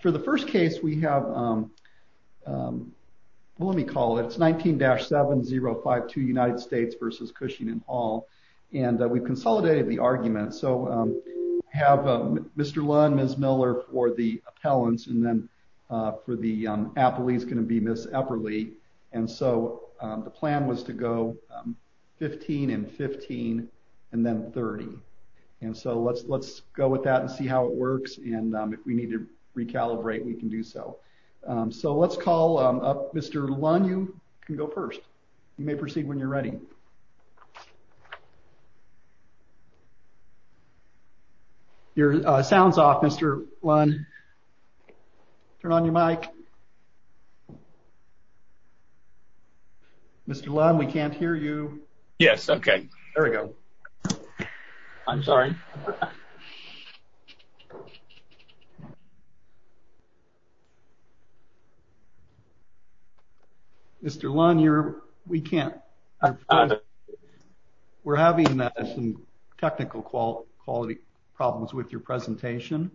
For the first case we have, let me call it, it's 19-7052 United States v. Cushing and Hall, and we've consolidated the argument. So we have Mr. Lund, Ms. Miller for the appellants, and then for the appellees is going to be Ms. Epperle. And so the plan was to go 15 and 15 and then 30. And so let's go with that and see how it works and if we need to recalibrate we can do so. So let's call up Mr. Lund. You can go first. You may proceed when you're ready. Your sound's off, Mr. Lund. Turn on your mic. Mr. Lund, we can't hear you. Yes, okay. There we go. I'm sorry. Mr. Lund, we're having some technical quality problems with your presentation.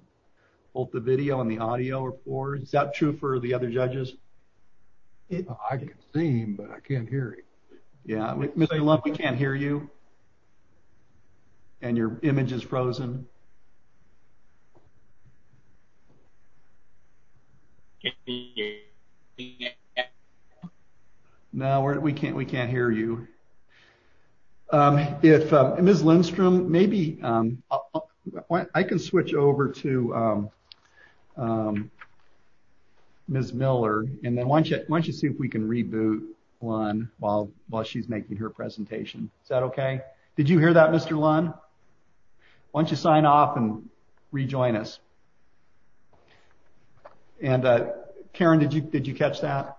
Both the video and the audio are poor. Is that true for the other judges? I can see him, but I can't hear him. Mr. Lund, we can't hear you and your image is frozen. No, we can't hear you. Ms. Lindstrom, maybe I can switch over to Ms. Miller and then why don't you see if we can reboot Lund while she's making her presentation. Is that okay? Did you hear that, Mr. Lund? Why don't you sign off and rejoin us? And Karen, did you catch that?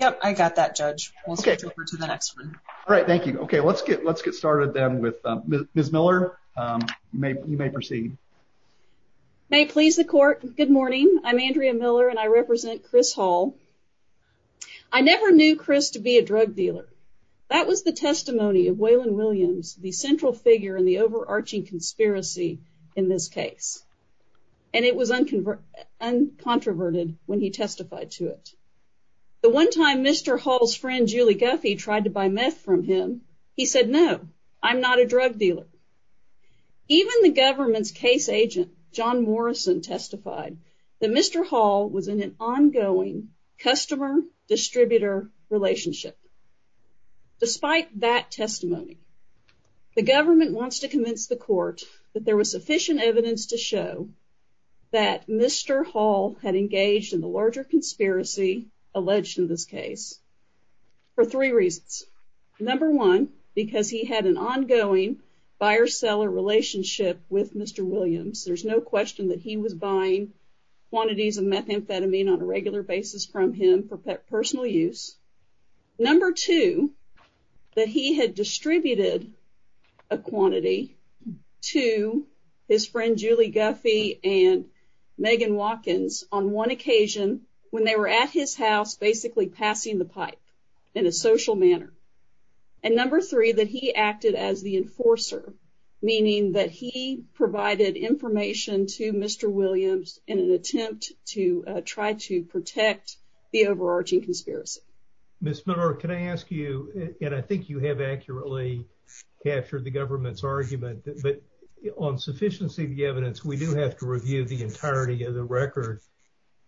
Yep, I got that, Judge. We'll switch over to the next one. All right, thank you. Okay, let's get started then with Ms. Miller. You may proceed. May it please the court, good morning. I'm Andrea Miller and I represent Chris Hall. I never knew Chris to be a drug dealer. That was the testimony of Waylon Williams, the central figure in the overarching conspiracy in this case, and it was uncontroverted when he testified to it. The one time Mr. Hall's friend, Julie Guffey, tried to buy meth from him, he said, no, I'm not a drug dealer. Even the government's case agent, John Morrison, testified that Mr. Hall was in an ongoing customer-distributor relationship. Despite that testimony, the government wants to convince the court that there was sufficient evidence to show that Mr. Hall had engaged in the larger conspiracy alleged in this case for three reasons. Number one, because he had an ongoing buyer-seller relationship with Mr. Williams. There's no question that he was buying quantities of methamphetamine on a regular basis from him for personal use. Number two, that he had distributed a quantity to his friend Julie Guffey and Megan Watkins on one occasion when they were at his house basically passing the pipe in a social manner. And number three, that he acted as the enforcer, meaning that he provided information to Mr. Williams in an attempt to try to protect the overarching conspiracy. Ms. Miller, can I ask you, and I think you have accurately captured the government's argument, but on sufficiency of the evidence, we do have to review the entirety of the record.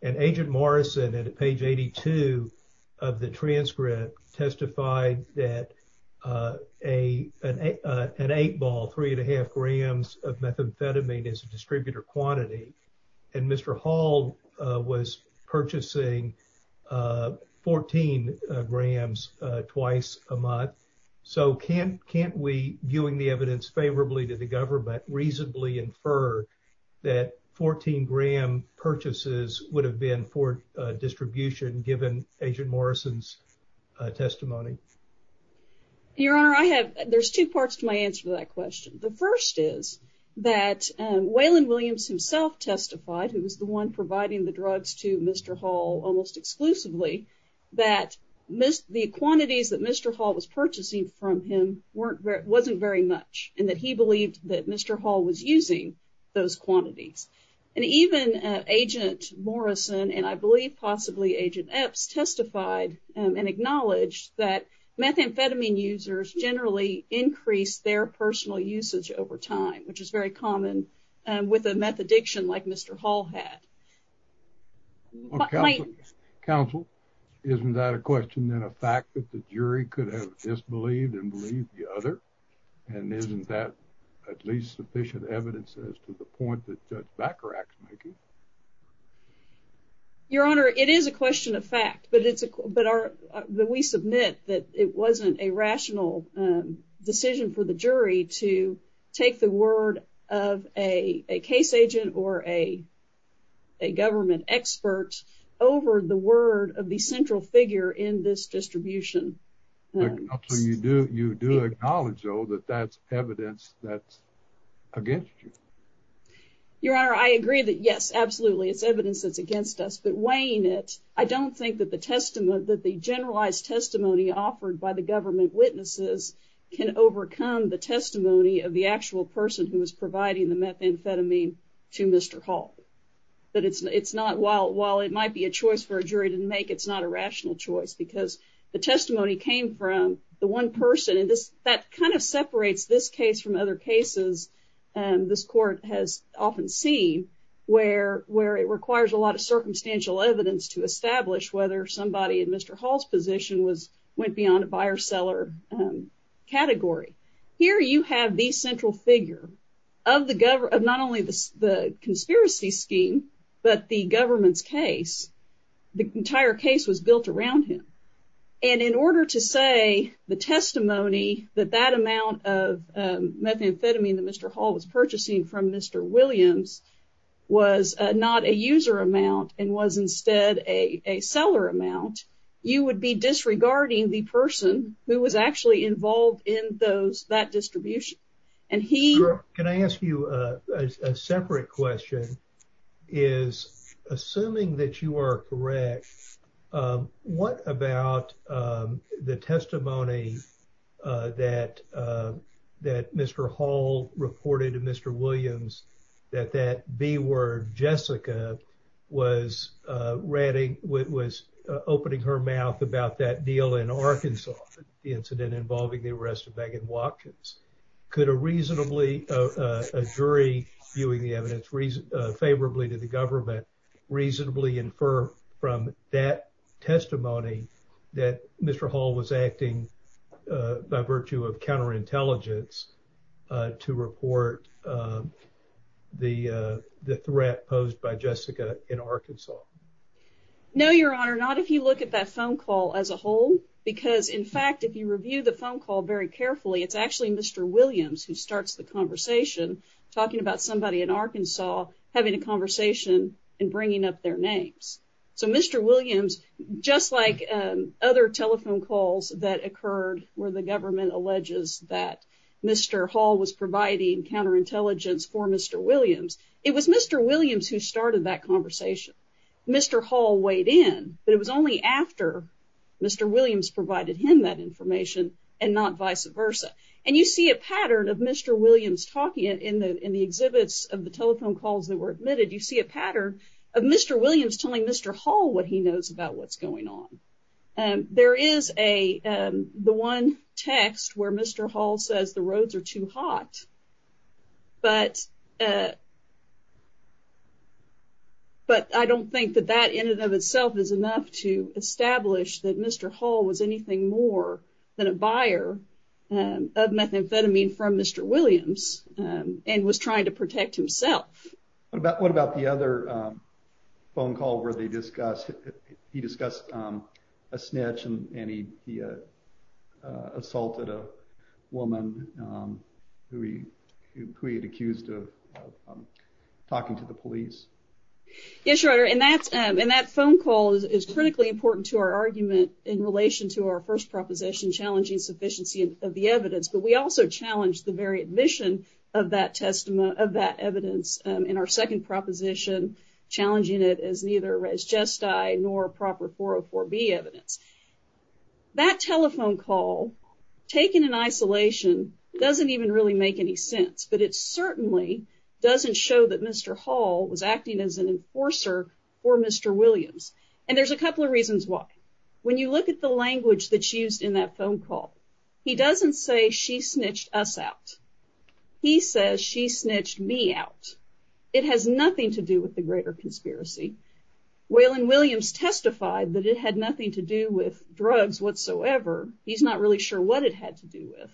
And Agent Morrison, at page 82 of the transcript, testified that an eight ball, three and a half grams of methamphetamine is a distributor quantity. And Mr. Hall was purchasing 14 grams twice a month. So can't we, viewing the evidence favorably to the government, reasonably infer that 14 gram purchases would have been for distribution given Agent Morrison's testimony? Your Honor, I have, there's two parts to my answer to that question. The first is that Waylon Williams himself testified, who was the one providing the drugs to Mr. Hall almost exclusively, that the quantities that Mr. Hall was purchasing from him wasn't very much, and that he believed that Mr. Hall was using those quantities. And even Agent Morrison, and I believe possibly Agent Epps, testified and acknowledged that methamphetamine users generally increase their personal usage over time, which is very common with a meth addiction like Mr. Hall had. Counsel, isn't that a question and a fact that the jury could have disbelieved and believed the other? And isn't that at least sufficient evidence as to the point that Judge Bacharach's making? Your Honor, it is a question of fact, but it's, that we submit that it wasn't a rational decision for the jury to take the word of a case agent or a government expert over the word of the central figure in this distribution. You do acknowledge, though, that that's evidence that's against you. Your Honor, I agree that yes, absolutely, it's evidence that's against us, but weighing it, I don't think that the testimony, that the generalized testimony offered by the government witnesses can overcome the testimony of the actual person who was providing the methamphetamine to Mr. Hall. That it's, it's not, while, while it might be a choice for a jury to make, it's not a rational choice because the testimony came from the one person, and this, that kind of separates this case from other cases and this court has often seen where, where it requires a lot of circumstantial evidence to establish whether somebody in Mr. Hall's position was, went beyond a buyer-seller category. Here you have the central figure of the government, of not only the conspiracy scheme, but the government's case. The entire case was built around him, and in order to say the testimony that that amount of methamphetamine that Mr. Hall was purchasing from Mr. Williams was not a user amount and was instead a, a seller amount, you would be disregarding the person who was actually involved in those, that distribution, and he... Sure, can I ask you a separate question? Is, assuming that you are correct, what about the testimony that, that Mr. Hall reported to Mr. Williams that that B word, Jessica, was ratting, was opening her mouth about that deal in Arkansas, the incident involving the arrest of Megan Watkins? Could a reasonably, a jury viewing the favorably to the government, reasonably infer from that testimony that Mr. Hall was acting by virtue of counterintelligence to report the, the threat posed by Jessica in Arkansas? No, Your Honor, not if you look at that phone call as a whole, because in fact, if you review the phone call very carefully, it's actually Mr. Williams who starts the conversation talking about somebody in Arkansas having a conversation and bringing up their names. So Mr. Williams, just like other telephone calls that occurred where the government alleges that Mr. Hall was providing counterintelligence for Mr. Williams, it was Mr. Williams who started that conversation. Mr. Hall weighed in, but it was only after Mr. Williams provided him that information and not vice versa. And you see a pattern of Mr. Williams talking in the, in the exhibits of the telephone calls that were admitted, you see a pattern of Mr. Williams telling Mr. Hall what he knows about what's going on. There is a, the one text where Mr. Hall says the roads are too hot, but, but I don't think that that in and of itself is enough to establish that Mr. Hall was anything more than a buyer of methamphetamine from Mr. Williams and was trying to protect himself. What about the other phone call where they discussed, he discussed a snitch and he assaulted a woman who he, who he had accused of talking to the police? Yes, Your Honor. And that's, and that phone call is critically important to our argument in relation to our first proposition, challenging sufficiency of the evidence. But we also challenged the very admission of that testimony, of that evidence in our second proposition, challenging it as neither res gesti nor proper 404B evidence. That telephone call taken in isolation doesn't even really make any sense, but it certainly doesn't show that Mr. Hall was acting as an enforcer for Mr. Williams. And there's a couple of reasons why. When you look at the language that she used in that phone call, he doesn't say she snitched us out. He says she snitched me out. It has nothing to do with the greater conspiracy. Waylon Williams testified that it had nothing to do with drugs whatsoever. He's not really sure what it had to do with.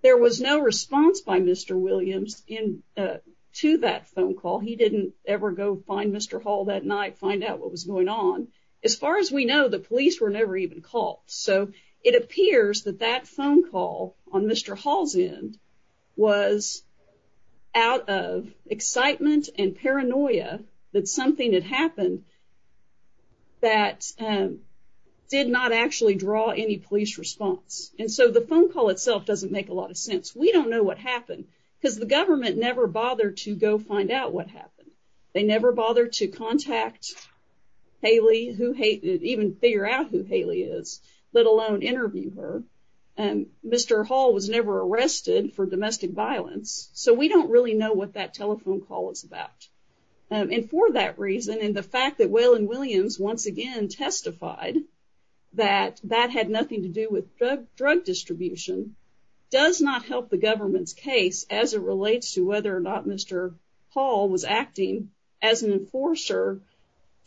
There was no response by Mr. Williams in, uh, to that phone call. He didn't ever go find Mr. Hall that night, find out what was going on. As far as we know, the police were never even called. So it appears that that phone call on Mr. Hall's end was out of excitement and paranoia that something had happened that, um, did not actually draw any police response. And so the phone call itself doesn't make a lot of sense. We don't know what happened because the government never bothered to go find out what happened. They never bothered to contact Haley, even figure out who Haley is, let alone interview her. And Mr. Hall was never arrested for domestic violence. So we don't really know what that telephone call is about. And for that reason, and the fact that Waylon Williams once again testified that that had nothing to do with drug distribution does not help the government's case as it relates to whether or not Mr. Hall was acting as an enforcer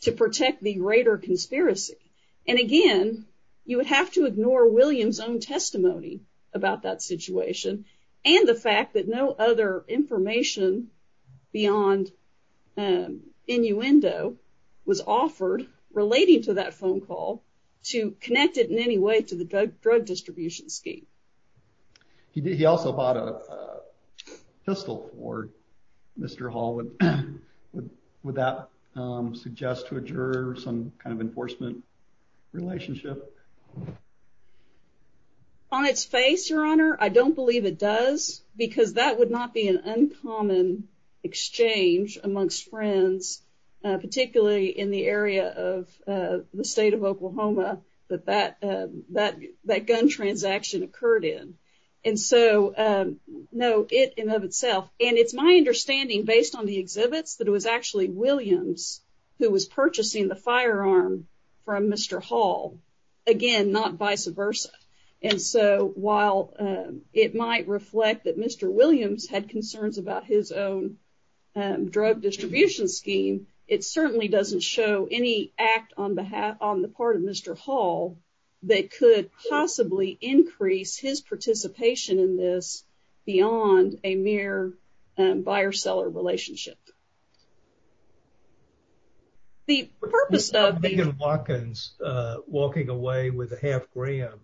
to protect the greater conspiracy. And again, you would have to ignore Williams' own testimony about that situation and the fact that no other information beyond, um, innuendo was offered relating to that phone call to connect it in any way to the drug distribution scheme. He also bought a pistol for Mr. Hall. Would that suggest to a juror some kind of enforcement relationship? On its face, your honor, I don't believe it does because that would not be an uncommon exchange amongst friends, particularly in the area of the state of Oklahoma that that, that, that gun transaction occurred in. And so, um, no, it in of itself. And it's my understanding based on the exhibits that it was actually Williams who was purchasing the firearm from Mr. Hall. Again, not vice versa. And so while, um, it might reflect that Mr. Williams had concerns about his own, um, drug distribution scheme, it certainly doesn't show any act on behalf, on the part of Mr. Hall that could possibly increase his participation in this beyond a mere, um, buyer-seller relationship. The purpose of Megan Watkins, uh, walking away with a half gram,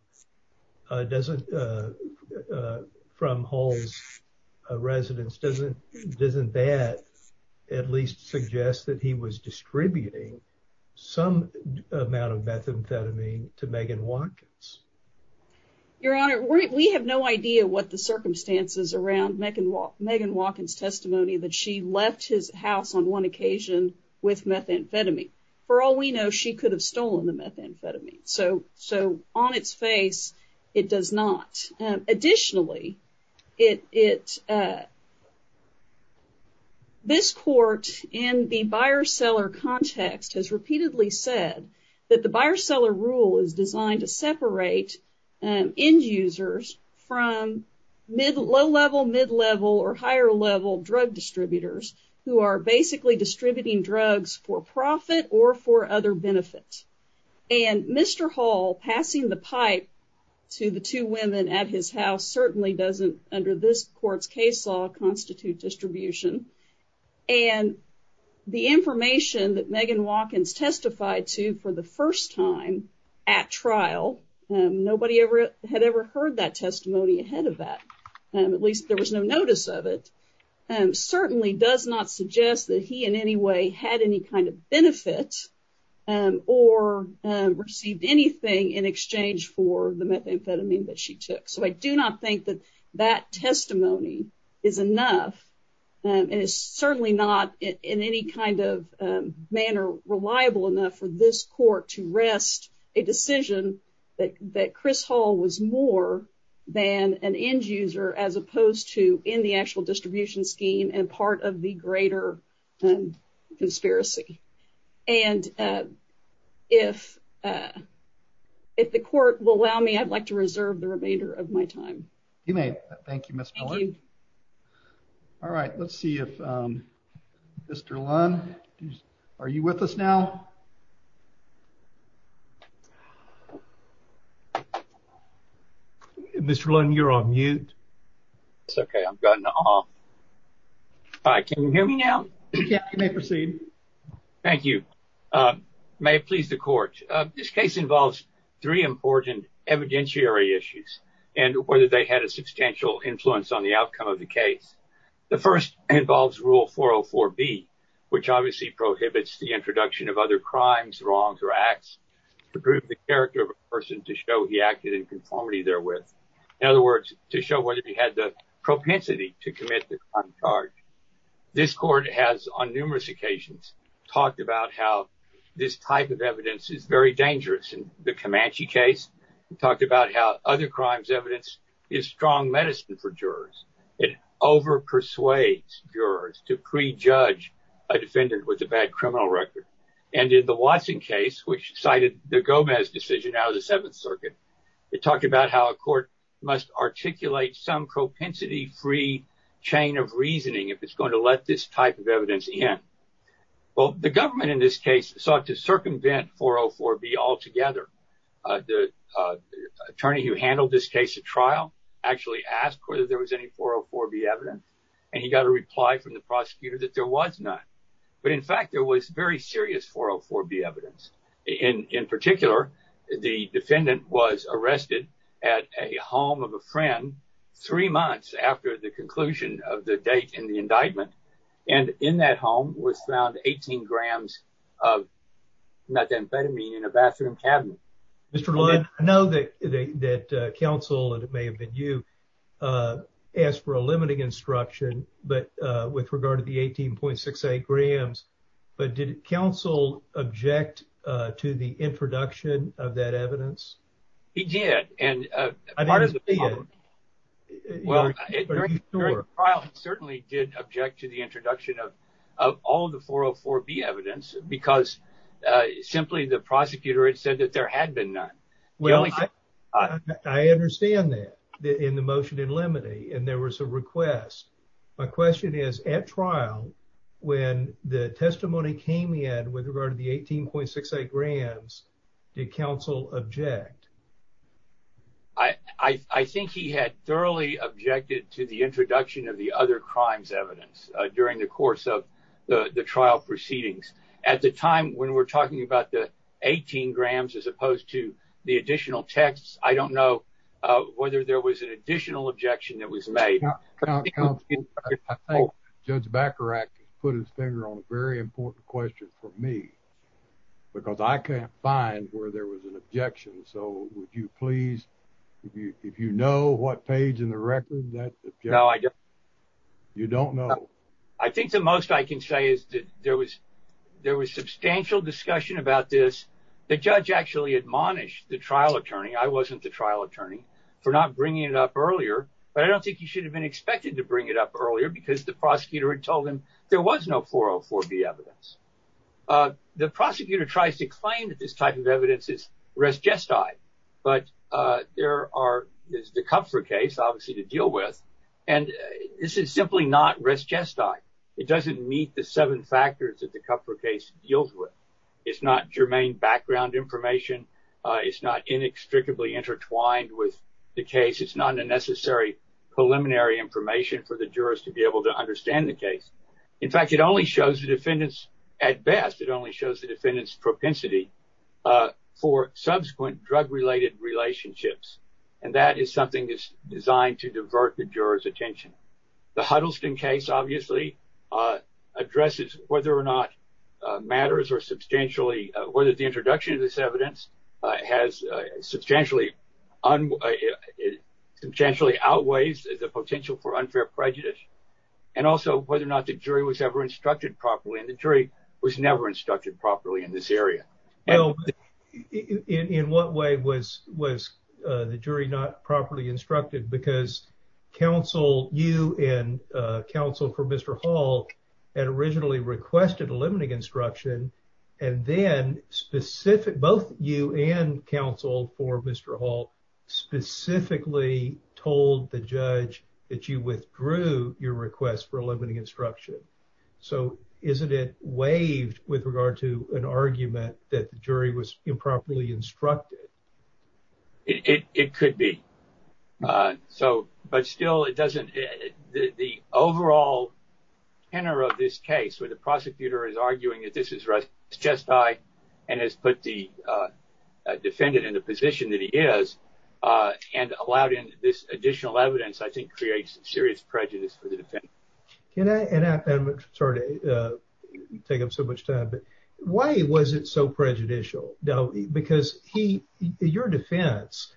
uh, doesn't, uh, uh, from Hall's, uh, residence, doesn't, doesn't that at least suggest that he was distributing some amount of methamphetamine to Megan Watkins? Your honor, we have no idea what the circumstances around Megan Watkins testimony that she left his house on one occasion with methamphetamine. For all we know, she could have stolen the methamphetamine. So, so on its face, it does not. Additionally, it, it, uh, this court in the buyer-seller context has repeatedly said that the buyer-seller rule is designed to separate, um, end users from mid, low-level, mid-level, or higher-level drug distributors who are basically distributing drugs for profit or for other benefits. And Mr. Hall passing the pipe to the two women at his house certainly doesn't, under this court's case law, constitute distribution. And the information that Megan Watkins testified to for the first time at trial, um, nobody ever had ever heard that testimony ahead of that, um, at least there was no notice of it, um, certainly does not suggest that he in any way had any kind of benefit, um, or, um, received anything in exchange for the methamphetamine that she took. So I do not think that that testimony is enough, um, and it's certainly not in any kind of, um, manner reliable enough for this court to rest a decision that, that Chris Hall was more than an end user as opposed to in the actual distribution scheme and part of the greater, um, conspiracy. And, uh, if, uh, if the court will allow me, I'd like to reserve the Mr. Lunn. Are you with us now? Mr. Lunn, you're on mute. It's okay. I'm gotten off. Hi, can you hear me now? You may proceed. Thank you. Um, may it please the court, uh, this case involves three important evidentiary issues and whether they had a substantial influence on the which obviously prohibits the introduction of other crimes, wrongs, or acts to prove the character of a person to show he acted in conformity therewith. In other words, to show whether he had the propensity to commit the crime charge. This court has on numerous occasions talked about how this type of evidence is very dangerous. In the Comanche case, we talked about how other a defendant with a bad criminal record. And in the Watson case, which cited the Gomez decision out of the seventh circuit, it talked about how a court must articulate some propensity-free chain of reasoning if it's going to let this type of evidence in. Well, the government in this case sought to circumvent 404B altogether. Uh, the, uh, attorney who handled this case at trial actually asked whether there was any 404B evidence. And he got a reply from the prosecutor that there was none. But in fact, there was very serious 404B evidence. In, in particular, the defendant was arrested at a home of a friend three months after the conclusion of the date in the indictment. And in that home was found 18 grams of methamphetamine in a bathroom cabinet. Mr. Lund, I know that, that, uh, counsel, and it may have been you, uh, asked for a limiting instruction, but, uh, with regard to the 18.68 grams, but did counsel object, uh, to the introduction of that evidence? He did. And, uh, part of the trial certainly did object to the introduction of, of all the 404B evidence because, uh, simply the prosecutor had said that there had been none. Well, I understand that in the motion in limine and there was a request. My question is at trial, when the testimony came in with regard to the 18.68 grams, did counsel object? I, I think he had thoroughly objected to the introduction of the other crimes evidence, uh, during the course of the trial proceedings. At the time when we're talking about the 18 grams, as opposed to the additional texts, I don't know, uh, whether there was an additional objection that was made. I think Judge Bacharach put his finger on a very important question for me because I can't find where there was an objection. So would you please, if you, if you know what page in the record that you don't know. I think the most I can say is that there was, there was substantial discussion about this. The judge actually admonished the trial attorney. I wasn't the trial attorney for not bringing it up earlier, but I don't think he should have been expected to bring it up earlier because the prosecutor had told him there was no 404B evidence. Uh, the prosecutor tries to claim that this type of evidence is resgestite, but, uh, there are, there's the Kupfer case obviously to deal with, and this is simply not resgestite. It doesn't meet the seven factors that the Kupfer case deals with. It's not germane background information. Uh, it's not inextricably intertwined with the case. It's not a necessary preliminary information for the jurors to be able to understand the case. In fact, it only shows the defendants at best. It only shows the defendants propensity, uh, for subsequent drug related relationships. And that is something that's going to divert the jurors attention. The Huddleston case obviously, uh, addresses whether or not, uh, matters or substantially, uh, whether the introduction of this evidence, uh, has, uh, substantially on, uh, it substantially outweighs the potential for unfair prejudice. And also whether or not the jury was ever instructed properly. And the jury was never instructed properly in this area. Well, in, in what way was, was, uh, the jury not properly instructed because counsel, you and, uh, counsel for Mr. Hall had originally requested a limiting instruction and then specific, both you and counsel for Mr. Hall specifically told the judge that you withdrew your request for a limiting instruction. So isn't it waived with regard to an argument that the jury was improperly instructed? It, it, it could be. Uh, so, but still it doesn't, the overall tenor of this case where the prosecutor is arguing that this is just right and has put the, uh, defendant in the position that he is, uh, and allowed in this additional evidence, I think creates some serious prejudice for the defendant. Can I, and I'm sorry to, uh, why was it so prejudicial though? Because he, your defense,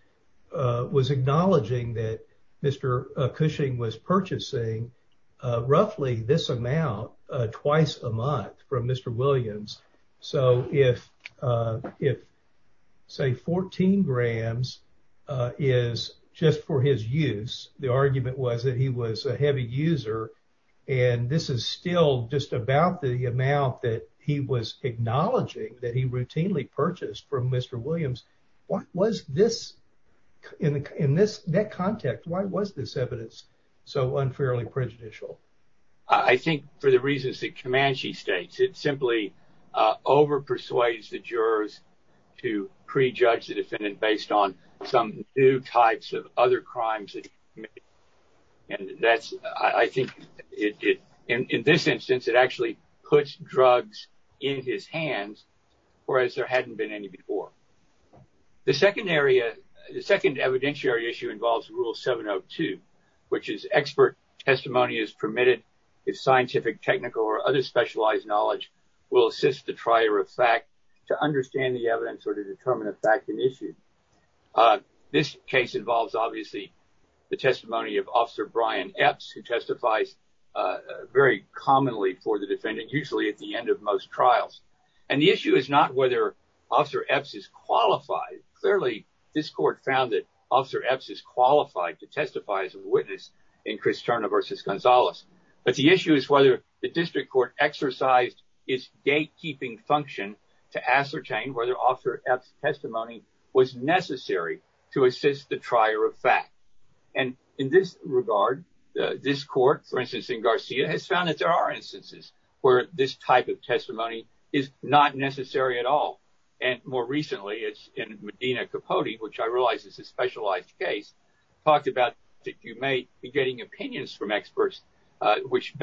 uh, was acknowledging that Mr. Cushing was purchasing, uh, roughly this amount, uh, twice a month from Mr. Williams. So if, uh, if say 14 grams, uh, is just for his use, the argument was that he was a heavy user and this is still just about the amount that he was acknowledging that he routinely purchased from Mr. Williams. What was this in the, in this, that context, why was this evidence so unfairly prejudicial? I think for the reasons that Comanche states, it simply, uh, over persuades the jurors to prejudge the defendant based on some new types of other crimes. And that's, I think it, it, in this instance, it actually puts drugs in his hands, whereas there hadn't been any before. The second area, the second evidentiary issue involves rule 702, which is expert testimony is permitted if scientific, technical, or other specialized knowledge will assist the trier of fact to understand the evidence or to determine a fact in issue. Uh, this case involves obviously the testimony of Officer Brian Epps, who testifies, uh, very commonly for the defendant, usually at the end of most trials. And the issue is not whether Officer Epps is qualified. Clearly, this court found that Officer Epps is qualified to testify as a witness in Cristerna versus Gonzalez. But the issue is whether the district court exercised its gatekeeping function to ascertain whether Officer Epps' testimony was necessary to assist the trier of fact. And in this regard, this court, for instance, in Garcia, has found that there are instances where this type of testimony is not necessary at all. And more recently, it's in Medina Capote, which I realize is a specialized case, talked about that you may be getting opinions from experts, uh, which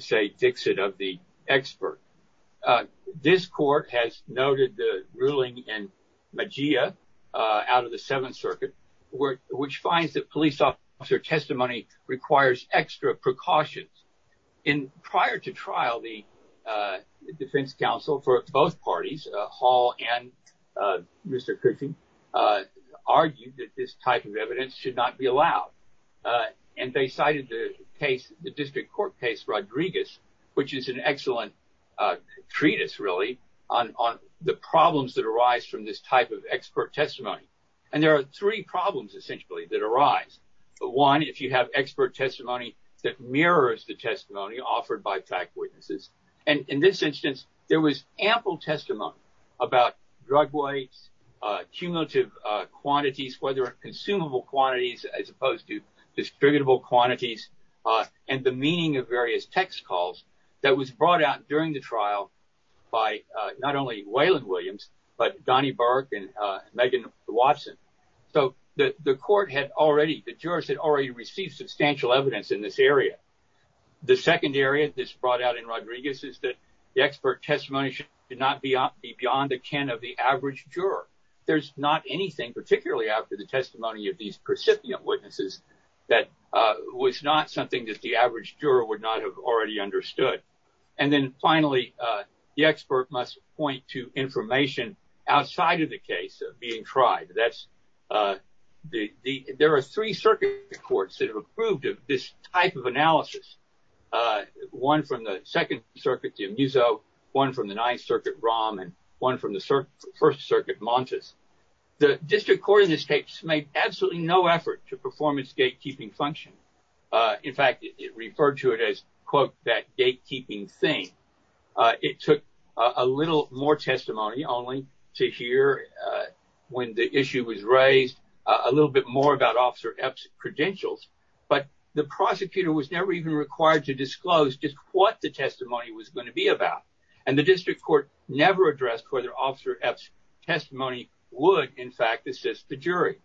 say Dixit of the expert. Uh, this court has noted the ruling in Mejia, uh, out of the Seventh Circuit, which finds that police officer testimony requires extra precautions. And prior to trial, the, uh, defense counsel for both parties, uh, Hall and, uh, Mr. Coochie, uh, argued that this which is an excellent, uh, treatise, really, on, on the problems that arise from this type of expert testimony. And there are three problems, essentially, that arise. One, if you have expert testimony that mirrors the testimony offered by fact witnesses. And in this instance, there was ample testimony about drug weights, uh, cumulative, uh, quantities, whether consumable quantities as opposed to distributable quantities, uh, and the meaning of various text calls that was brought out during the trial by, uh, not only Waylon Williams, but Donnie Burke and, uh, Megan Watson. So the, the court had already, the jurors had already received substantial evidence in this area. The second area that's brought out in Rodriguez is that the expert testimony should not be beyond the can of the average juror. There's not anything, particularly after the recipient witnesses, that, uh, was not something that the average juror would not have already understood. And then finally, uh, the expert must point to information outside of the case being tried. That's, uh, the, the, there are three circuit courts that have approved of this type of analysis. Uh, one from the Second Circuit, the Amuso, one from the Ninth Circuit, Rahm, and one from the First Circuit, Montes. The district court in this case made absolutely no effort to perform its gatekeeping function. Uh, in fact, it referred to it as, quote, that gatekeeping thing. Uh, it took a little more testimony only to hear, uh, when the issue was raised, uh, a little bit more about Officer Epps' credentials, but the prosecutor was never even required to disclose just what the Officer Epps' testimony would, in fact, assist the jury.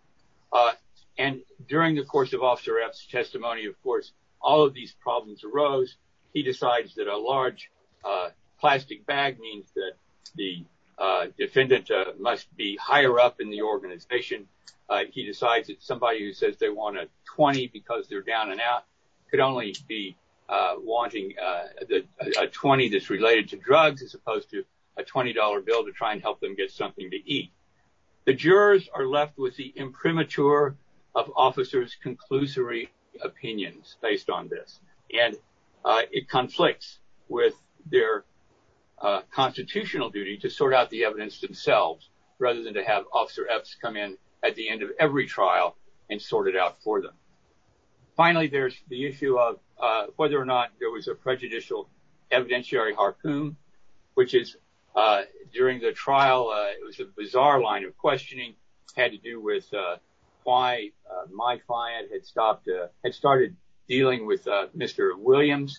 Uh, and during the course of Officer Epps' testimony, of course, all of these problems arose. He decides that a large, uh, plastic bag means that the, uh, defendant, uh, must be higher up in the organization. Uh, he decides that somebody who says they want a 20 because they're down and out could only be, uh, wanting, uh, a 20 that's related to drugs as opposed to a $20 bill to try and help them get something to eat. The jurors are left with the imprimatur of officers' conclusory opinions based on this, and, uh, it conflicts with their, uh, constitutional duty to sort out the evidence themselves rather than to have Officer Epps come in at the end of every trial and sort it out for them. Finally, there's the issue of, uh, whether or not there was a prejudicial evidentiary harpoon, which is, uh, during the trial, uh, it was a bizarre line of questioning. It had to do with, uh, why, uh, my client had stopped, uh, had started dealing with, uh, Mr. Williams,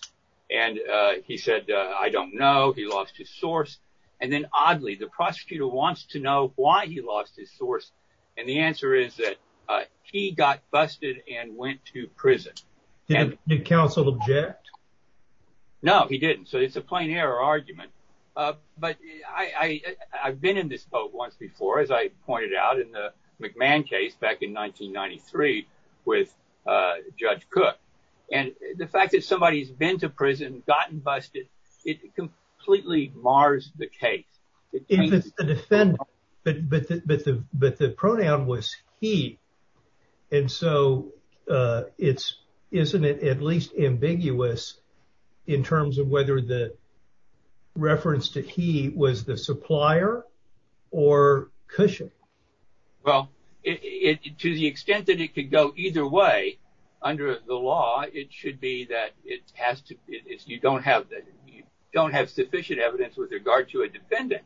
and, uh, he said, uh, I don't know. He lost his source, and then, oddly, the prosecutor wants to know why he lost his source, and the answer is that, uh, he got busted and went to prison. Did counsel object? No, he didn't, so it's a plain error argument, uh, but I, I, I've been in this boat once before, as I pointed out in the McMahon case back in 1993 with, uh, Judge Cook, and the fact that somebody's been to prison, gotten busted, it completely mars the case. If it's the defendant, but, but the, but the, but the pronoun was he, and so, uh, it's, isn't it at least ambiguous in terms of whether the reference to he was the supplier or Cushing? Well, it, it, to the extent that it could go either way under the law, it should be that it has to, it's, you don't have, you don't have sufficient evidence with regard to a defendant.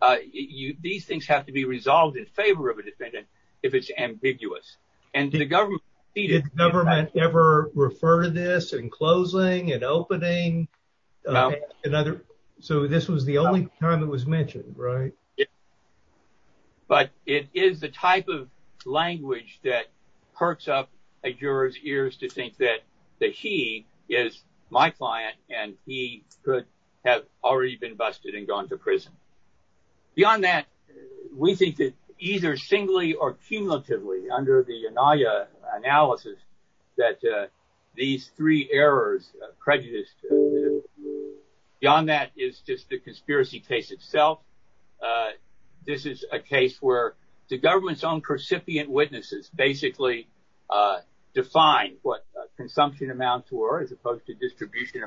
Uh, you, these things have to be resolved in favor of a defendant if it's ambiguous, and the government. Did the government ever refer to this in closing and opening? No. Another, so this was the only time it was mentioned, right? Yeah, but it is the type of language that perks up a juror's ears to think that, that he is my client and he could have already been busted and gone to prison. Beyond that, we think that either singly or cumulatively under the Anaya analysis that, uh, these three errors, prejudice, beyond that is just the conspiracy case itself. Uh, this is a case where the government's own recipient witnesses basically, uh, define what consumption amounts were as opposed to distribution.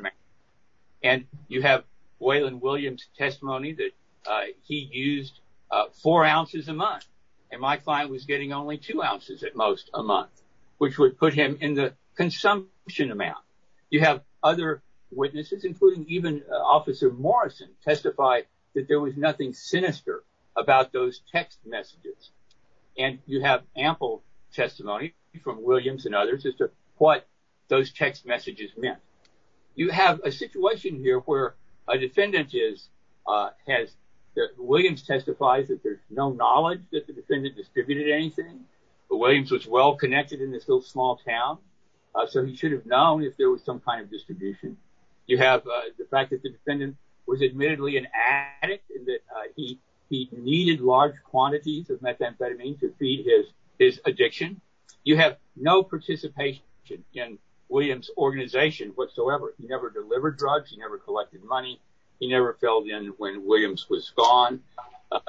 And you have Waylon Williams testimony that, uh, he used, uh, four ounces a month. And my client was getting only two ounces at most a month, which would put him in the consumption amount. You have other witnesses, including even Officer Morrison, testify that there was nothing sinister about those text messages. And you have ample testimony from Williams and others as to what those text messages meant. You have a situation here where a defendant is, uh, has, that Williams testifies that there's no knowledge that the defendant distributed anything, but Williams was well-connected in this little small town, uh, so he should have known if there was some kind of distribution. You have, uh, the fact that the defendant was admittedly an addict and that, uh, he, he needed large quantities of methamphetamine to feed his, his addiction. You have no participation in Williams' organization whatsoever. He never delivered drugs. He never collected money. He never filled in when Williams was gone. Uh,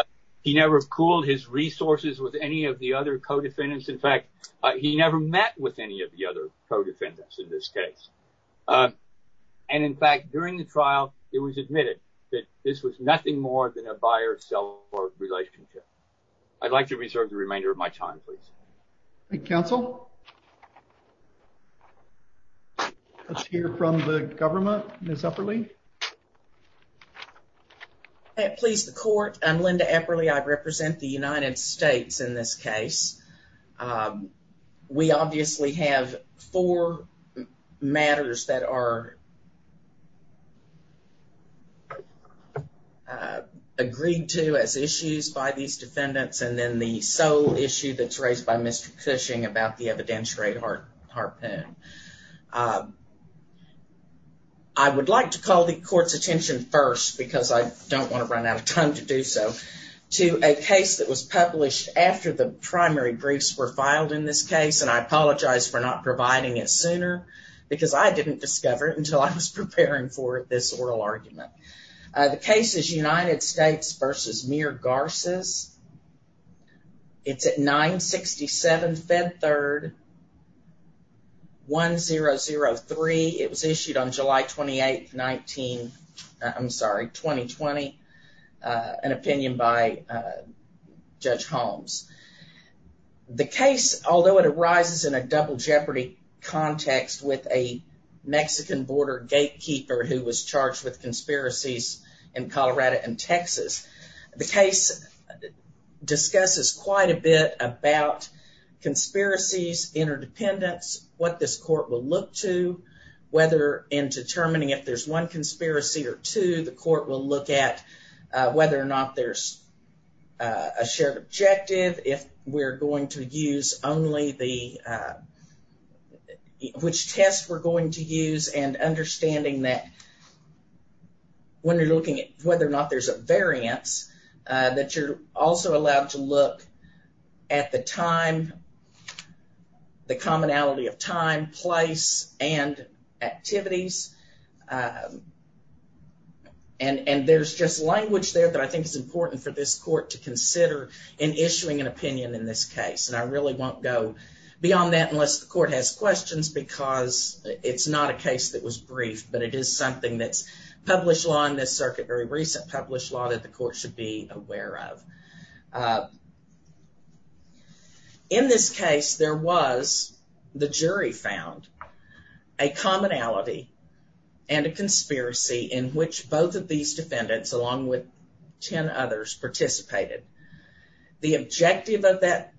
he never pooled his resources with any of the other co-defendants. In fact, uh, he never met with any of the other co-defendants in this case. Uh, and in fact, during the trial, it was admitted that this was nothing more than a buyer-seller relationship. I'd like to reserve the remainder of my time, please. Thank you, counsel. Let's hear from the government. Ms. Epperle. Hey, please, the court. I'm Linda Epperle. I represent the United States in this case. Um, we obviously have four matters that are agreed to as issues by these defendants and then the sole issue that's raised by Mr. Cushing about the evidentiary heart, heart pain. I would like to call the court's attention first because I don't want to run out of time to do so to a case that was published after the primary briefs were filed in this case. And I apologize for not providing it sooner because I didn't discover it until I was preparing for this oral argument. Uh, the case is United States versus Mere Garces. It's at 967 Fed Third 1003. It was issued on July 28th, 19, I'm sorry, 2020, uh, an opinion by, uh, Judge Holmes. The case, although it arises in a double jeopardy context with a Mexican border gatekeeper who was charged with conspiracies in Colorado and Texas, the case discusses quite a bit about conspiracies interdependence, what this court will look to, whether in determining if there's one conspiracy or two, the court will look at, uh, whether or not there's, uh, a shared objective. If we're going to use only the, uh, which tests we're going to use and understanding that when you're looking whether or not there's a variance, uh, that you're also allowed to look at the time, the commonality of time, place, and activities. Uh, and, and there's just language there that I think is important for this court to consider in issuing an opinion in this case. And I really won't go beyond that unless the court has questions because it's not a case that was briefed, but it is something that's published law in this circuit, very recent published law that the court should be aware of. Uh, in this case, there was, the jury found, a commonality and a conspiracy in which both of these defendants along with 10 others participated. The objective of that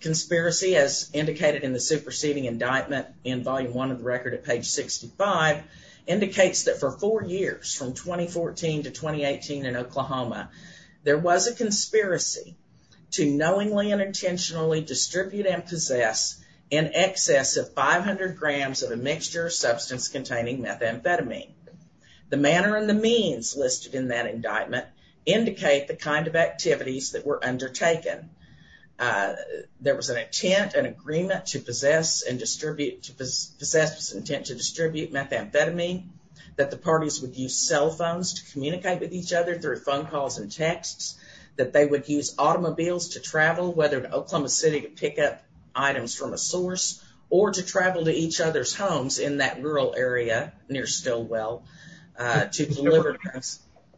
conspiracy, as indicated in the superseding indictment in volume one of the record at page 65, indicates that for four years from 2014 to 2018 in Oklahoma, there was a conspiracy to knowingly and intentionally distribute and possess in excess of 500 grams of a mixture of substance containing methamphetamine. The manner and the means listed in that indictment indicate the kind of activities that were undertaken. Uh, there was an intent, an agreement to possess and distribute, to possess, intent to distribute methamphetamine, that the parties would use cell phones to communicate with each other through phone calls and texts, that they would use automobiles to travel, whether to Oklahoma city to pick up items from a source or to travel to each other's homes in that rural area near Stilwell, uh, to deliver.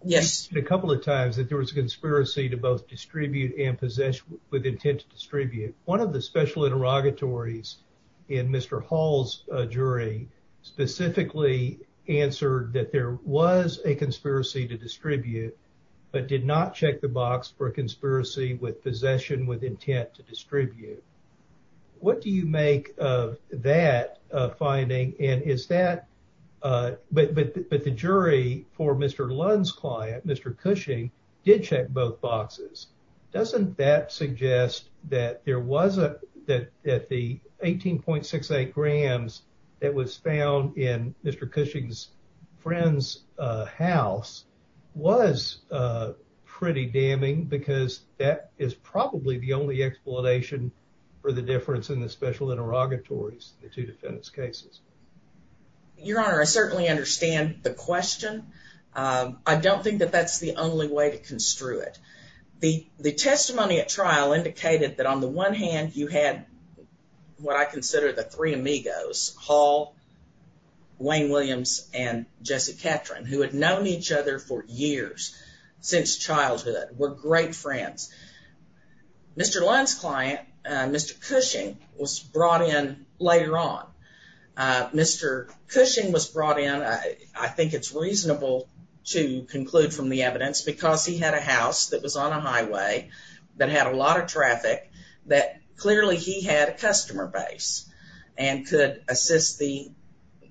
Yes. A couple of times that there was a conspiracy to both distribute and possess with intent to distribute. One of the special interrogatories in Mr. Hall's jury specifically answered that there was a conspiracy to distribute, but did not check the box for a conspiracy with possession with intent to distribute. What do you make of that finding? And is that, uh, but, but, but the jury for Mr. Lund's client, Mr. Cushing did check both boxes. Doesn't that suggest that there was a, that, that the 18.68 grams that was found in Mr. Cushing's friend's, uh, house was, uh, pretty damning because that is probably the only explanation for the difference in the special interrogatories, the two defendants cases. Your Honor, I certainly understand the question. Um, I don't think that that's the only way to the testimony at trial indicated that on the one hand, you had what I consider the three amigos, Hall, Wayne Williams, and Jesse Catron, who had known each other for years since childhood, were great friends. Mr. Lund's client, uh, Mr. Cushing was brought in later on. Uh, Mr. Cushing was brought in. I think it's reasonable to conclude from the evidence because he had a house that was on a highway that had a lot of traffic that clearly he had a customer base and could assist the,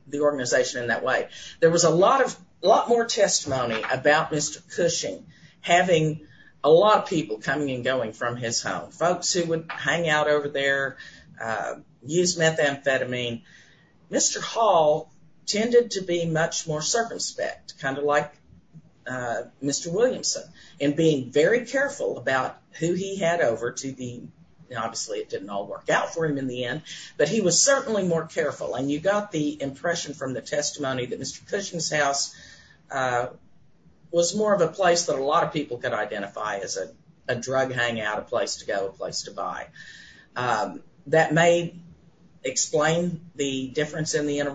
the organization in that way. There was a lot of, a lot more testimony about Mr. Cushing having a lot of people coming and going from his home, folks who would hang out over there, uh, use methamphetamine. Mr. Hall tended to be much more circumspect, kind of like, uh, Mr. Williamson in being very careful about who he had over to the, obviously it didn't all work out for him in the end, but he was certainly more careful. And you got the impression from the testimony that Mr. Cushing's house, uh, was more of a place that a lot of people could identify as a drug hangout, a place to go, a place to buy. Um, that may explain the difference in the to,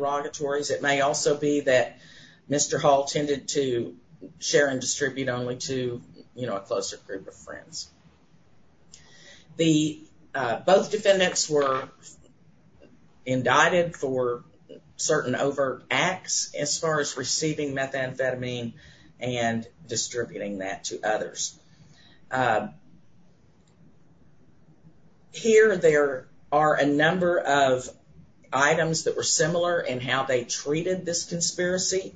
you know, a closer group of friends. The, uh, both defendants were indicted for certain overt acts as far as receiving methamphetamine and distributing that to others. Here, there are a number of items that were similar in how they treated this conspiracy,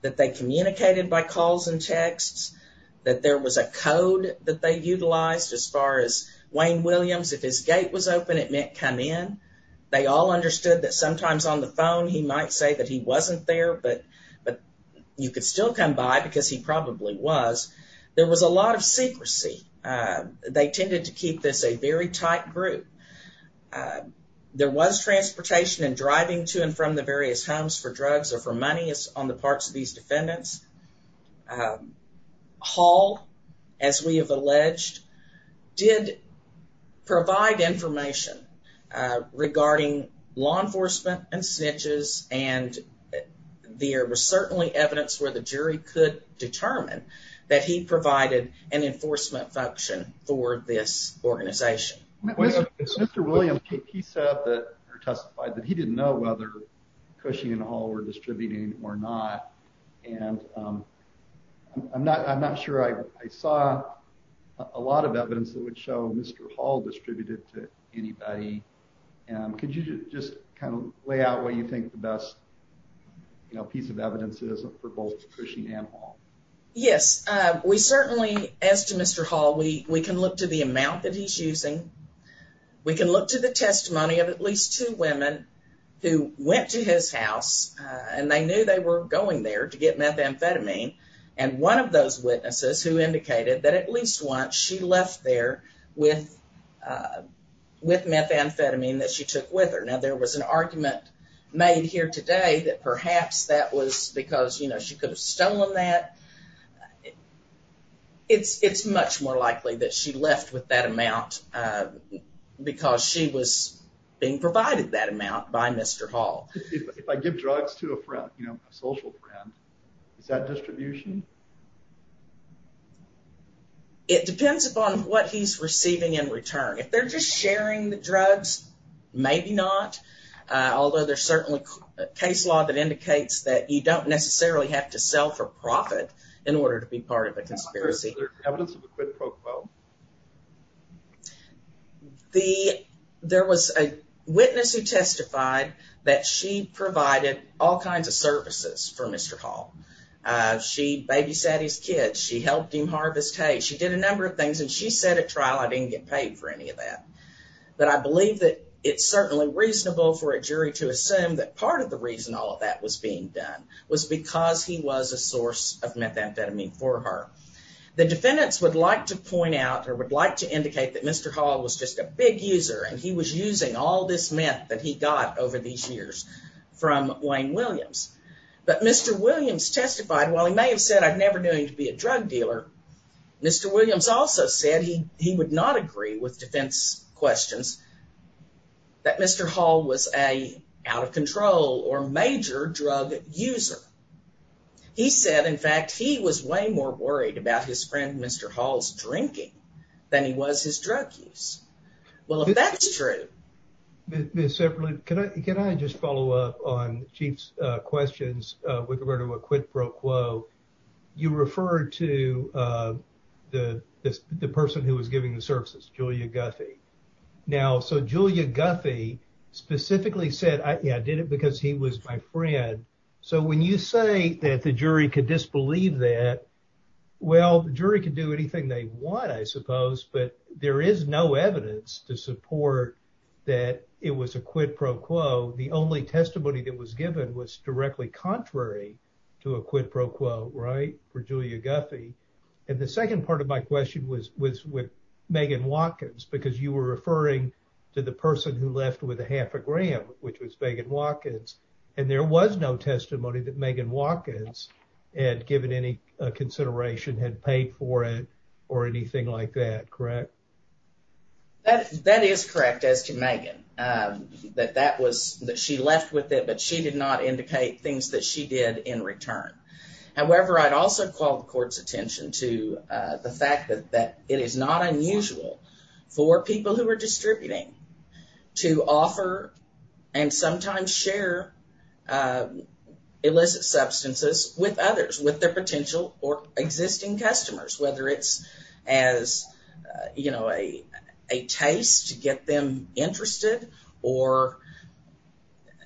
that they communicated by calls and texts, that there was a code that they utilized as far as Wayne Williams, if his gate was open, it meant come in. They all understood that sometimes on the phone, he might say that he wasn't there, but, but you could still come by because he probably was. There was a lot of secrecy. Uh, they tended to keep this a very tight group. Uh, there was transportation and driving to and from the various homes for drugs or for money on the parts of these defendants. Um, Hall, as we have alleged, did provide information, uh, regarding law enforcement and snitches. And there was certainly evidence where the jury could determine that he provided an enforcement function for this organization. Mr. Williams, he said that or testified that he didn't know whether Cushing and Hall were distributing or not. And, um, I'm not, I'm not sure I, I saw a lot of evidence that would show Mr. Hall distributed to anybody. Um, could you just kind of lay out what you think the best, you know, piece of evidence is for both Cushing and Hall? Yes. Uh, we certainly, as to Mr. Hall, we, we can look to the amount that he's using. We can look to the testimony of at least two women who went to his house, uh, and they knew they were going there to get methamphetamine. And one of those witnesses who indicated that at least once she left there with, uh, with methamphetamine that she took with her. Now, there was an argument made here today that perhaps that was because, you know, she could have stolen that. It's, it's much more likely that she left with that amount, uh, because she was being provided that amount by Mr. Hall. If I give drugs to a friend, you know, a social friend, is that distribution? It depends upon what he's receiving in return. If they're just sharing the drugs, maybe not. Although there's certainly a case law that indicates that you don't necessarily have to sell for profit in order to be part of a conspiracy. Is there evidence of a quid pro quo? The, there was a witness who testified that she provided all kinds of services for Mr. Hall. She babysat his kids. She helped him harvest hay. She did a number of things and she said at trial, I didn't get paid for any of that. But I believe that it's certainly reasonable for a jury to assume that part of the reason all of that was being done was because he was a source of methamphetamine for her. The defendants would like to point out or would like to indicate that Mr. Hall was just a big user and he was using all this meth that he got over these years from Wayne Williams. But Mr. Williams testified, while he may have said I'd never do him to be a drug dealer, Mr. Williams also said he would not agree with defense questions that Mr. Hall was a out of control or major drug user. He said, in fact, he was way more worried about his friend Mr. Hall's drinking than he was his drug use. Well, if that's true. Ms. Zeppelin, can I just follow up on Chief's questions with regard to a quid pro quo? You referred to the person who was giving the services, Julia Guthy. Now, so Julia Guthy specifically said, yeah, I did it because he was my friend. So when you say that the jury could disbelieve that, well, the jury could do anything they want, I suppose, but there is no evidence to support that it was a quid pro quo. The only testimony that was given was directly contrary to a quid pro quo, right, for Julia Guthy. And the second part of my question was with Megan Watkins, because you were referring to the person who left with a half a gram, which was Megan Watkins. And there was no testimony that Megan Watkins had given any consideration, had paid for it or anything like that, correct? That is correct as to Megan, that she left with it, but she did not indicate things that she did in return. However, I'd also call the court's attention to the fact that it is not unusual for people who are distributing to offer and sometimes share illicit substances with others, with their potential or existing customers, whether it's as, you know, a taste to get them interested or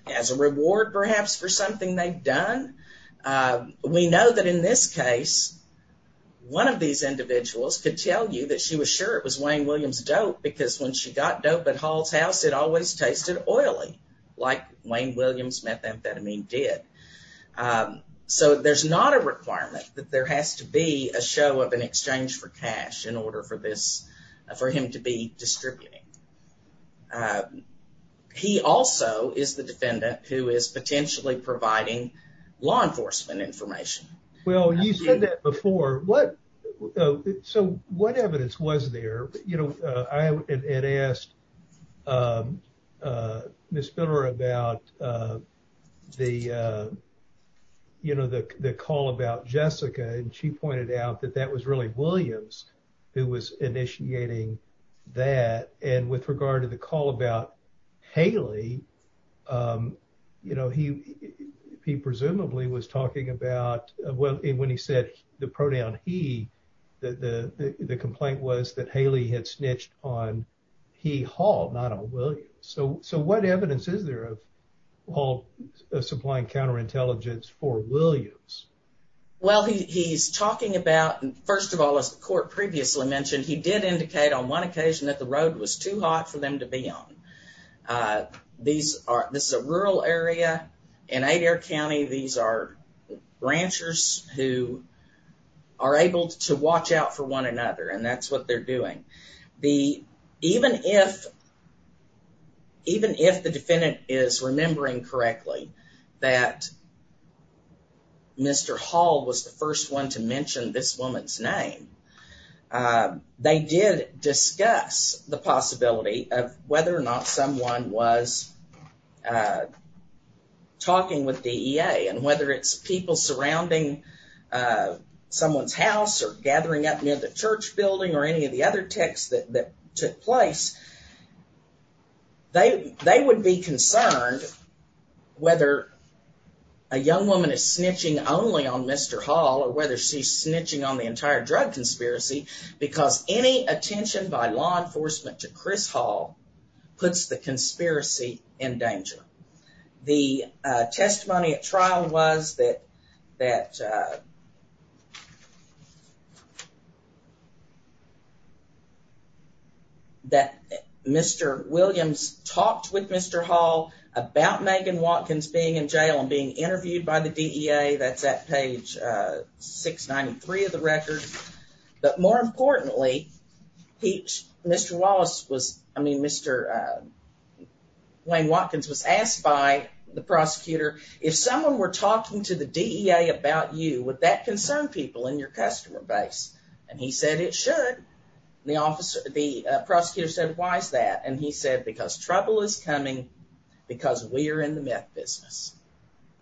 as a reward perhaps for something they've done. We know that in this case, one of these individuals could tell you that she was sure it was Wayne Williams dope because when she got dope at Hall's house, it always tasted oily, like Wayne Williams methamphetamine did. So there's not a requirement that there has to be a show of an exchange for cash in order for this, for him to be distributing. He also is the defendant who is potentially providing law enforcement information. Well, you said that before, what, so what evidence was there, you know, I had asked Ms. Spiller about the, you know, the call about Jessica and she pointed out that that was really Williams who was initiating that. And with regard to the call about Haley, you know, he presumably was talking about when he said the pronoun he, the complaint was that Haley had snitched on he Hall, not on Williams. So what evidence is there of Hall supplying counter intelligence for Williams? Well, he's talking about, first of all, as the court previously mentioned, he did indicate on one occasion that the road was too hot for them to be on. These are, this is a rural area in Adair County. These are ranchers who are able to watch out for one another and that's what they're doing. The, even if, even if the defendant is remembering correctly that Mr. Hall was the first one to mention this woman's name, they did discuss the possibility of whether or not someone was talking with DEA and whether it's people surrounding someone's house or gathering up near the church building or any of the other texts that took place, they would be concerned whether a young woman is snitching only on Mr. Hall or whether she's snitching on the entire drug conspiracy because any attention by law enforcement to Chris Hall puts the conspiracy in danger. The testimony at trial was that, that that Mr. Williams talked with Mr. Hall about Megan Watkins being in jail and being interviewed by the DEA. That's at page 693 of the record. But more importantly, he, Mr. Wallace was, I mean, Mr. Wayne Watkins was asked by the prosecutor, if someone were talking to the DEA about you, would that concern people in your customer base? And he said it should. The officer, the prosecutor said, why is that? And he said, because trouble is coming because we are in the meth business.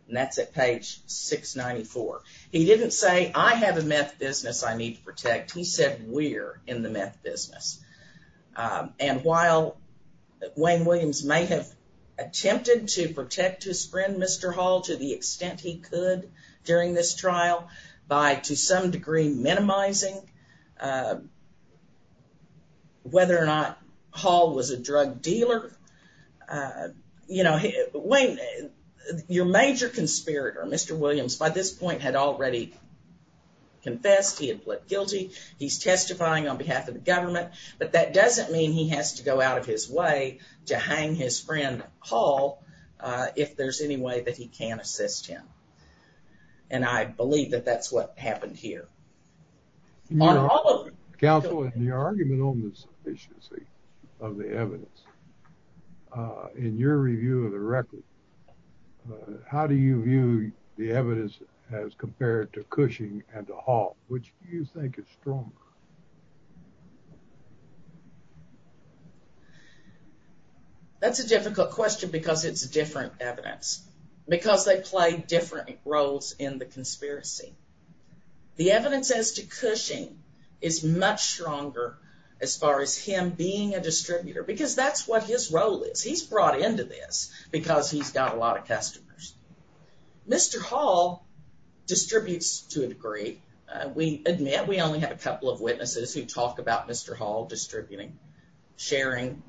And that's at page 694. He didn't say I have a meth business I need to protect. He said we're in the meth business. And while Wayne Williams may have attempted to protect his friend, Mr. Hall, to the extent he could during this trial by, to some degree, minimizing whether or not Hall was a drug dealer. You know, Wayne, your major conspirator, Mr. Williams, by this point had already confessed. He had pled guilty. He's testifying on behalf of the government. But that doesn't mean he has to go out of his way to hang his friend Hall if there's any way that he can assist him. And I believe that that's what happened here. On all of them. Counsel, in your argument on the sufficiency of the evidence, in your review of the record, how do you view the evidence as compared to Cushing and to Hall, which you think is stronger? That's a difficult question because it's different evidence. Because they play different roles in the conspiracy. The evidence as to Cushing is much stronger as far as him being a distributor. Because that's what his role is. He's brought into this because he's got a lot of customers. Mr. Hall distributes to a degree. We admit we only have a couple of witnesses who talk about Mr. Hall distributing, sharing,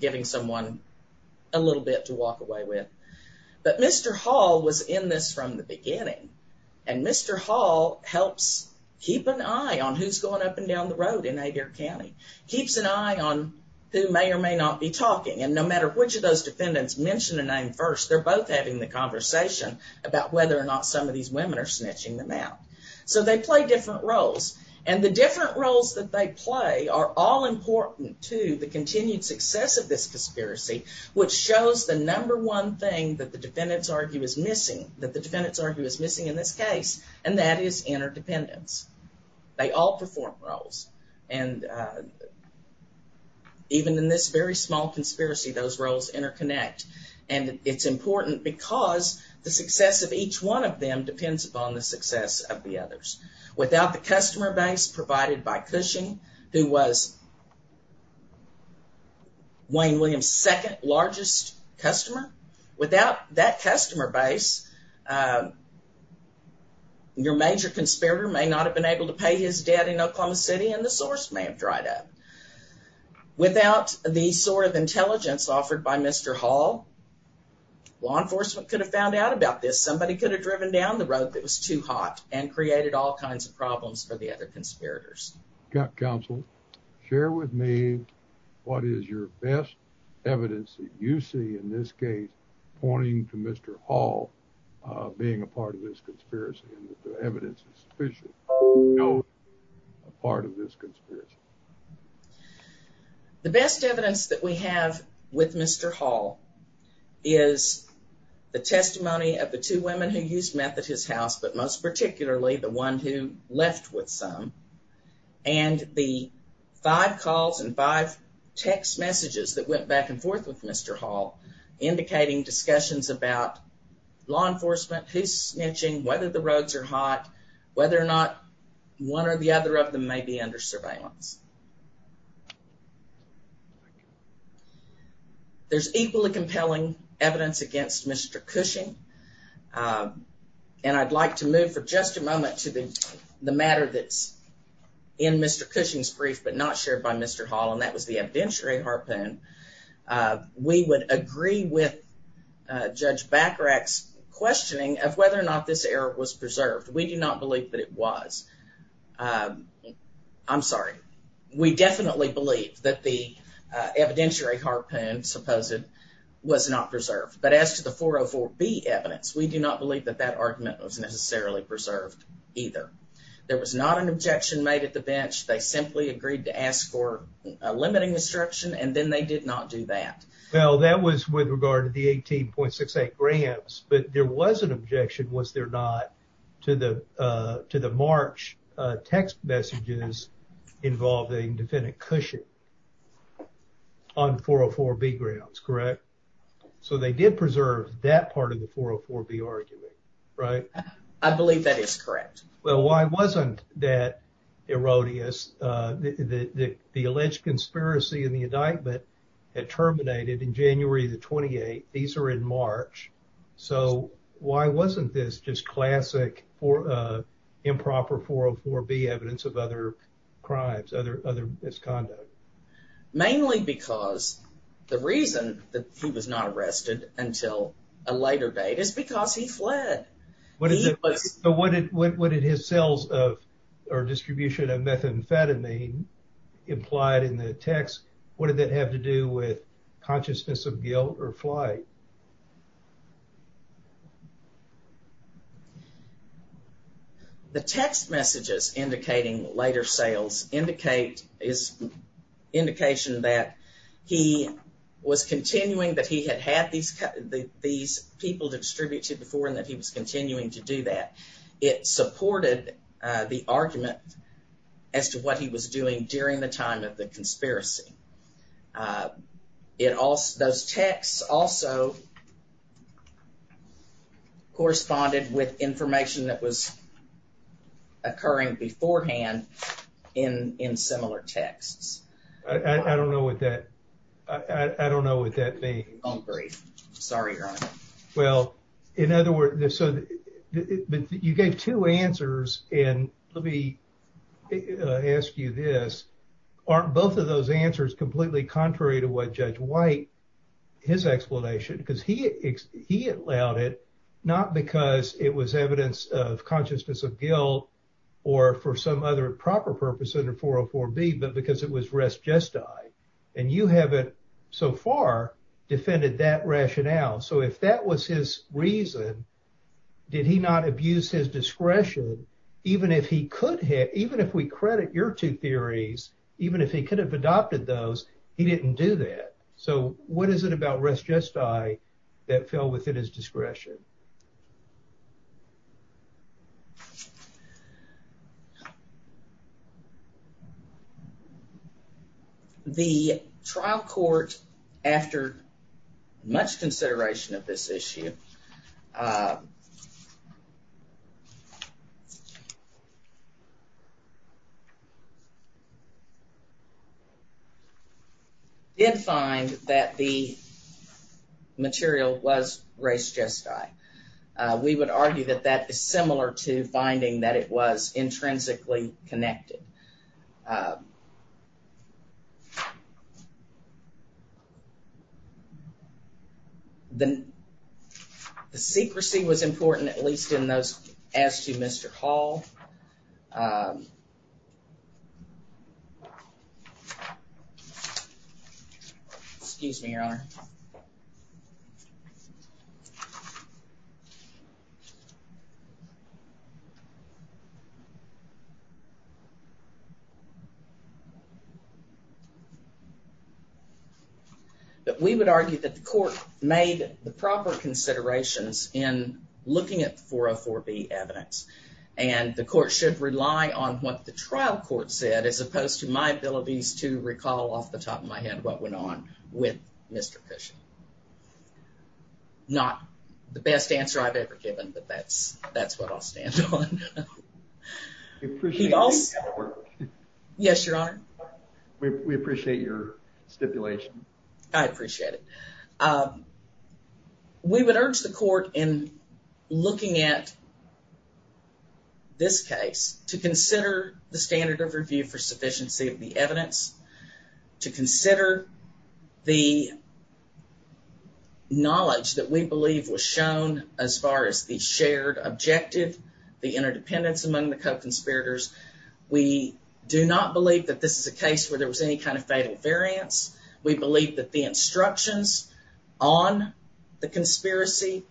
giving someone a little bit to walk away with. But Mr. Hall was in this from the beginning. And Mr. Hall helps keep an eye on who's going up and down the road in Adair County. Keeps an eye on who may or may not be talking. And no matter which of those defendants mention a name first, they're both having the conversation about whether or not some of these women are snitching them out. So they play different roles. And the different roles that they play are all important to the continued success of this conspiracy, which shows the number one thing that the defendants argue is missing, that the defendants argue is missing in this case, and that is interdependence. They all perform roles. And even in this very small conspiracy, those roles interconnect. And it's important because the success of each one of them depends upon the success of the others. Without the customer base provided by Cushing, who was Wayne Williams' second largest customer, without that customer base, your major conspirator may not have been able to pay his debt in Oklahoma City, and the source may have dried up. Without the sort of intelligence offered by Mr. Hall, law enforcement could have found out about this. Somebody could have driven down the road that was too hot and created all kinds of problems for the other conspirators. Counsel, share with me what is your best evidence that you see in this case pointing to Mr. Hall being a part of this conspiracy? The best evidence that we have with Mr. Hall is the testimony of the two women who used meth at his house, but most particularly the one who left with some, and the five calls and five text messages that went back and forth with Mr. Hall, indicating discussions about law enforcement, who's snitching, whether the roads are hot, whether or not one or the other of them may be under surveillance. There's equally compelling evidence against Mr. Cushing, and I'd like to move for just a moment to the matter that's in Mr. Cushing's brief but not shared by Mr. Hall, and that was the evidentiary harpoon. We would agree with Judge Bacharach's questioning of whether or not this error was preserved. We do not believe that it was. I'm sorry. We definitely believe that the evidentiary harpoon, supposed, was not preserved, but as to the 404B evidence, we do not believe that that argument was necessarily preserved either. There was not an objection made at the bench. They simply agreed to ask for limiting instruction, and then they did not do that. Well, that was with regard to the 18.68 grams, but there was an objection, was there not, to the to the March text messages involving defendant Cushing on 404B grounds, correct? So they did preserve that part of the 404B argument, right? I believe that is correct. Well, why wasn't that erroneous? The alleged conspiracy in the indictment had terminated in January of the 28th. These are in March. So why wasn't this just classic improper 404B evidence of other crimes, other misconduct? Mainly because the reason that he was not arrested until a later date is because he fled. But what did his sales of, or distribution of methamphetamine implied in the text, what did that have to do with consciousness of guilt or flight? The text messages indicating later sales indicate, is indication that he was continuing that he had had these people to distribute to before and that he was continuing to do that. It supported the argument as to what he was doing during the time of the conspiracy. It also, those texts also corresponded with information that was occurring beforehand in similar texts. I don't know what that, I don't know what that means. Sorry, Your Honor. Well, in other words, so you gave two answers and let me ask you this, aren't both of those answers completely contrary to what Judge White, his explanation, because he allowed it, not because it was evidence of consciousness of guilt or for some other proper 404B, but because it was res gesti. And you haven't so far defended that rationale. So if that was his reason, did he not abuse his discretion, even if he could have, even if we credit your two theories, even if he could have adopted those, he didn't do that. So what is it about res gesti that fell within his discretion? The trial court, after much consideration of this issue, did find that the material was res gesti. We would argue that that is similar to finding that it was intrinsically connected. The secrecy was important, at least in those as to Mr. Hall. Excuse me, Your Honor. That we would argue that the court made the proper considerations in looking at 404B evidence and the court should rely on what the trial court said as opposed to my abilities to recall off the top of my head what went on with Mr. Cushing. Not the best answer I've ever given, but that's what I'll stand on. Yes, Your Honor. We appreciate your stipulation. I appreciate it. We would urge the court in looking at this case to consider the standard of review for sufficiency of the evidence, to consider the knowledge that we believe was shown as far as the shared objective, the interdependence among the co-conspirators. We do not believe that this is a case where there was any kind of fatal variance. We believe that the instructions on the conspiracy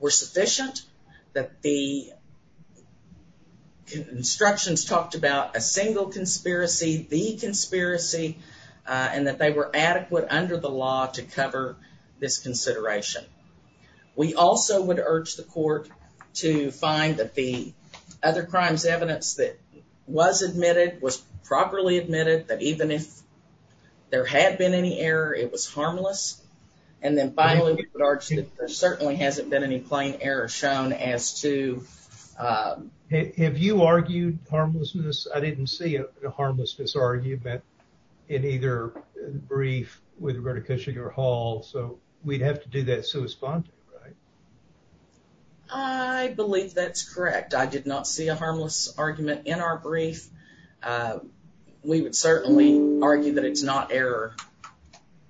were sufficient, that the instructions talked about a single conspiracy, the conspiracy, and that they were adequate under the law to cover this consideration. We also would urge the court to find that the other crimes evidence that was admitted was properly admitted, that even if there had been any error it was harmless, and then finally we would urge that there certainly hasn't been any plain error shown as to... Have you argued harmlessness? I didn't see a harmlessness argument in either brief with regard to Cushing or Hall, so we'd have to do that sui sponte, right? I believe that's correct. I did not see a harmless argument in our brief. We would certainly argue that it's not error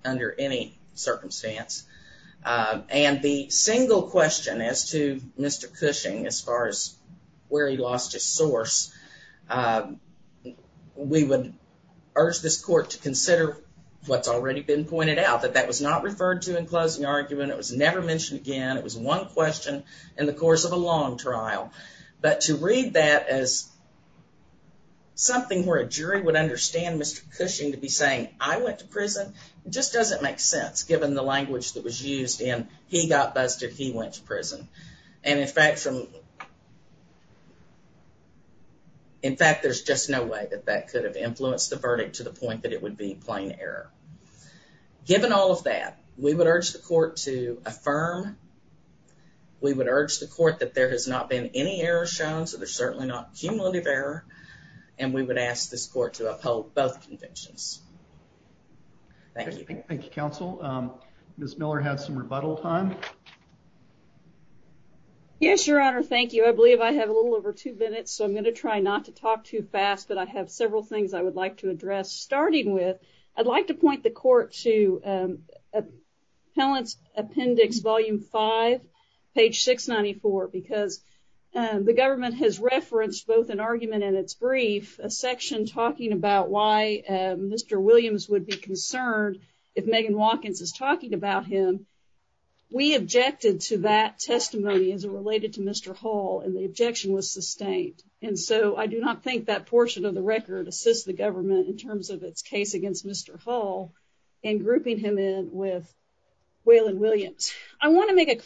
under any circumstance, and the single question as to Mr. Cushing as far as where he lost his source, we would urge this court to consider what's already been pointed out, that that was not referred to in closing argument, it was never mentioned again, it was one question in the course of a long trial, but to read that as something where a jury would understand Mr. Cushing to be saying, I went to prison, just doesn't make sense given the language that was and in fact there's just no way that that could have influenced the verdict to the point that it would be plain error. Given all of that, we would urge the court to affirm, we would urge the court that there has not been any error shown, so there's certainly not cumulative error, and we would ask this court to uphold both convictions. Thank you. Thank you, counsel. Ms. Miller has some rebuttal time. Yes, your honor, thank you. I believe I have a little over two minutes, so I'm going to try not to talk too fast, but I have several things I would like to address. Starting with, I'd like to point the court to Appellant's Appendix Volume 5, page 694, because the government has referenced both an argument and its brief, a section talking about why Mr. Williams would be concerned if Megan Watkins is talking about him. We objected to that testimony as it related to Mr. Hull, and the objection was sustained, and so I do not think that portion of the record assists the government in terms of its case against Mr. Hull in grouping him in with Waylon Williams. I want to make a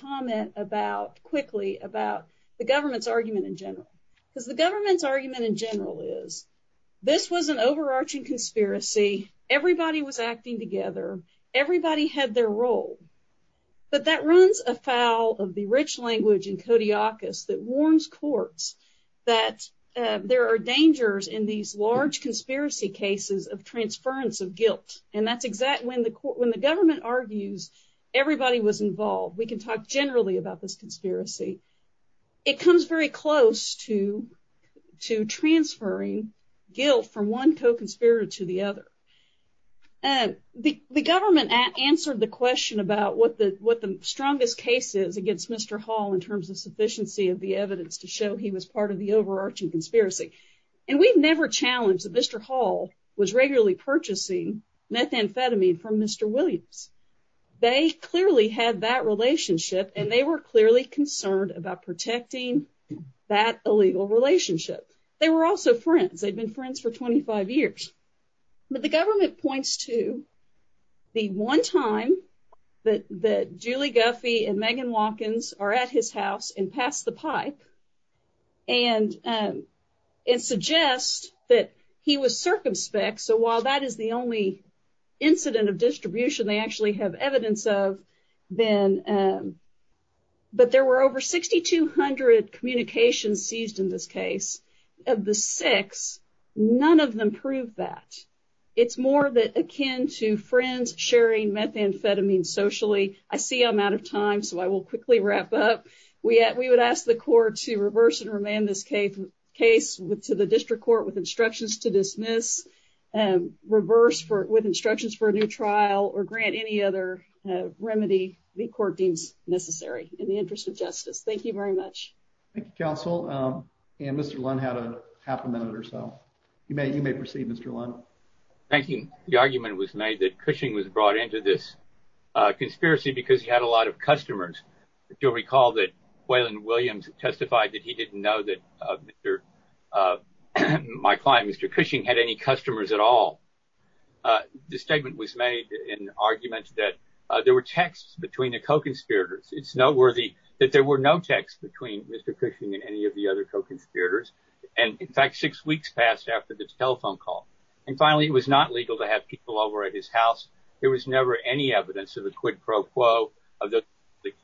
argument in general is, this was an overarching conspiracy. Everybody was acting together. Everybody had their role, but that runs afoul of the rich language in Codiacus that warns courts that there are dangers in these large conspiracy cases of transference of guilt, and that's exactly when the government argues everybody was involved. We can talk generally about this conspiracy. It comes very close to transferring guilt from one co-conspirator to the other, and the government answered the question about what the strongest case is against Mr. Hull in terms of sufficiency of the evidence to show he was part of the overarching conspiracy, and we've never challenged that Mr. Hull was regularly purchasing methamphetamine from Mr. Williams. They clearly had that relationship, and they were clearly concerned about protecting that illegal relationship. They were also friends. They'd been friends for 25 years, but the government points to the one time that Julie Guffey and Megan Watkins are at his house and pass the pipe and suggest that he was circumspect, so while that is the only incident of distribution they actually have evidence of, but there were over 6,200 communications seized in this case. Of the six, none of them proved that. It's more akin to friends sharing methamphetamine socially. I see I'm out of time, so I will quickly wrap up. We would ask the court to reverse and remand this case to the district court with instructions to trial or grant any other remedy the court deems necessary in the interest of justice. Thank you very much. Thank you, counsel, and Mr. Lund had a half a minute or so. You may proceed, Mr. Lund. Thank you. The argument was made that Cushing was brought into this conspiracy because he had a lot of customers. You'll recall that Waylon Williams testified that he didn't know that my client, Mr. Cushing, had any customers at all. The statement was made in argument that there were texts between the co-conspirators. It's noteworthy that there were no texts between Mr. Cushing and any of the other co-conspirators, and in fact six weeks passed after the telephone call. And finally, it was not legal to have people over at his house. There was never any evidence of a quid pro quo that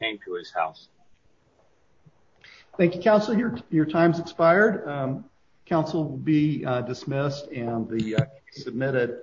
came to his house. Thank you, counsel. Your time has expired. Counsel will be dismissed and be submitted.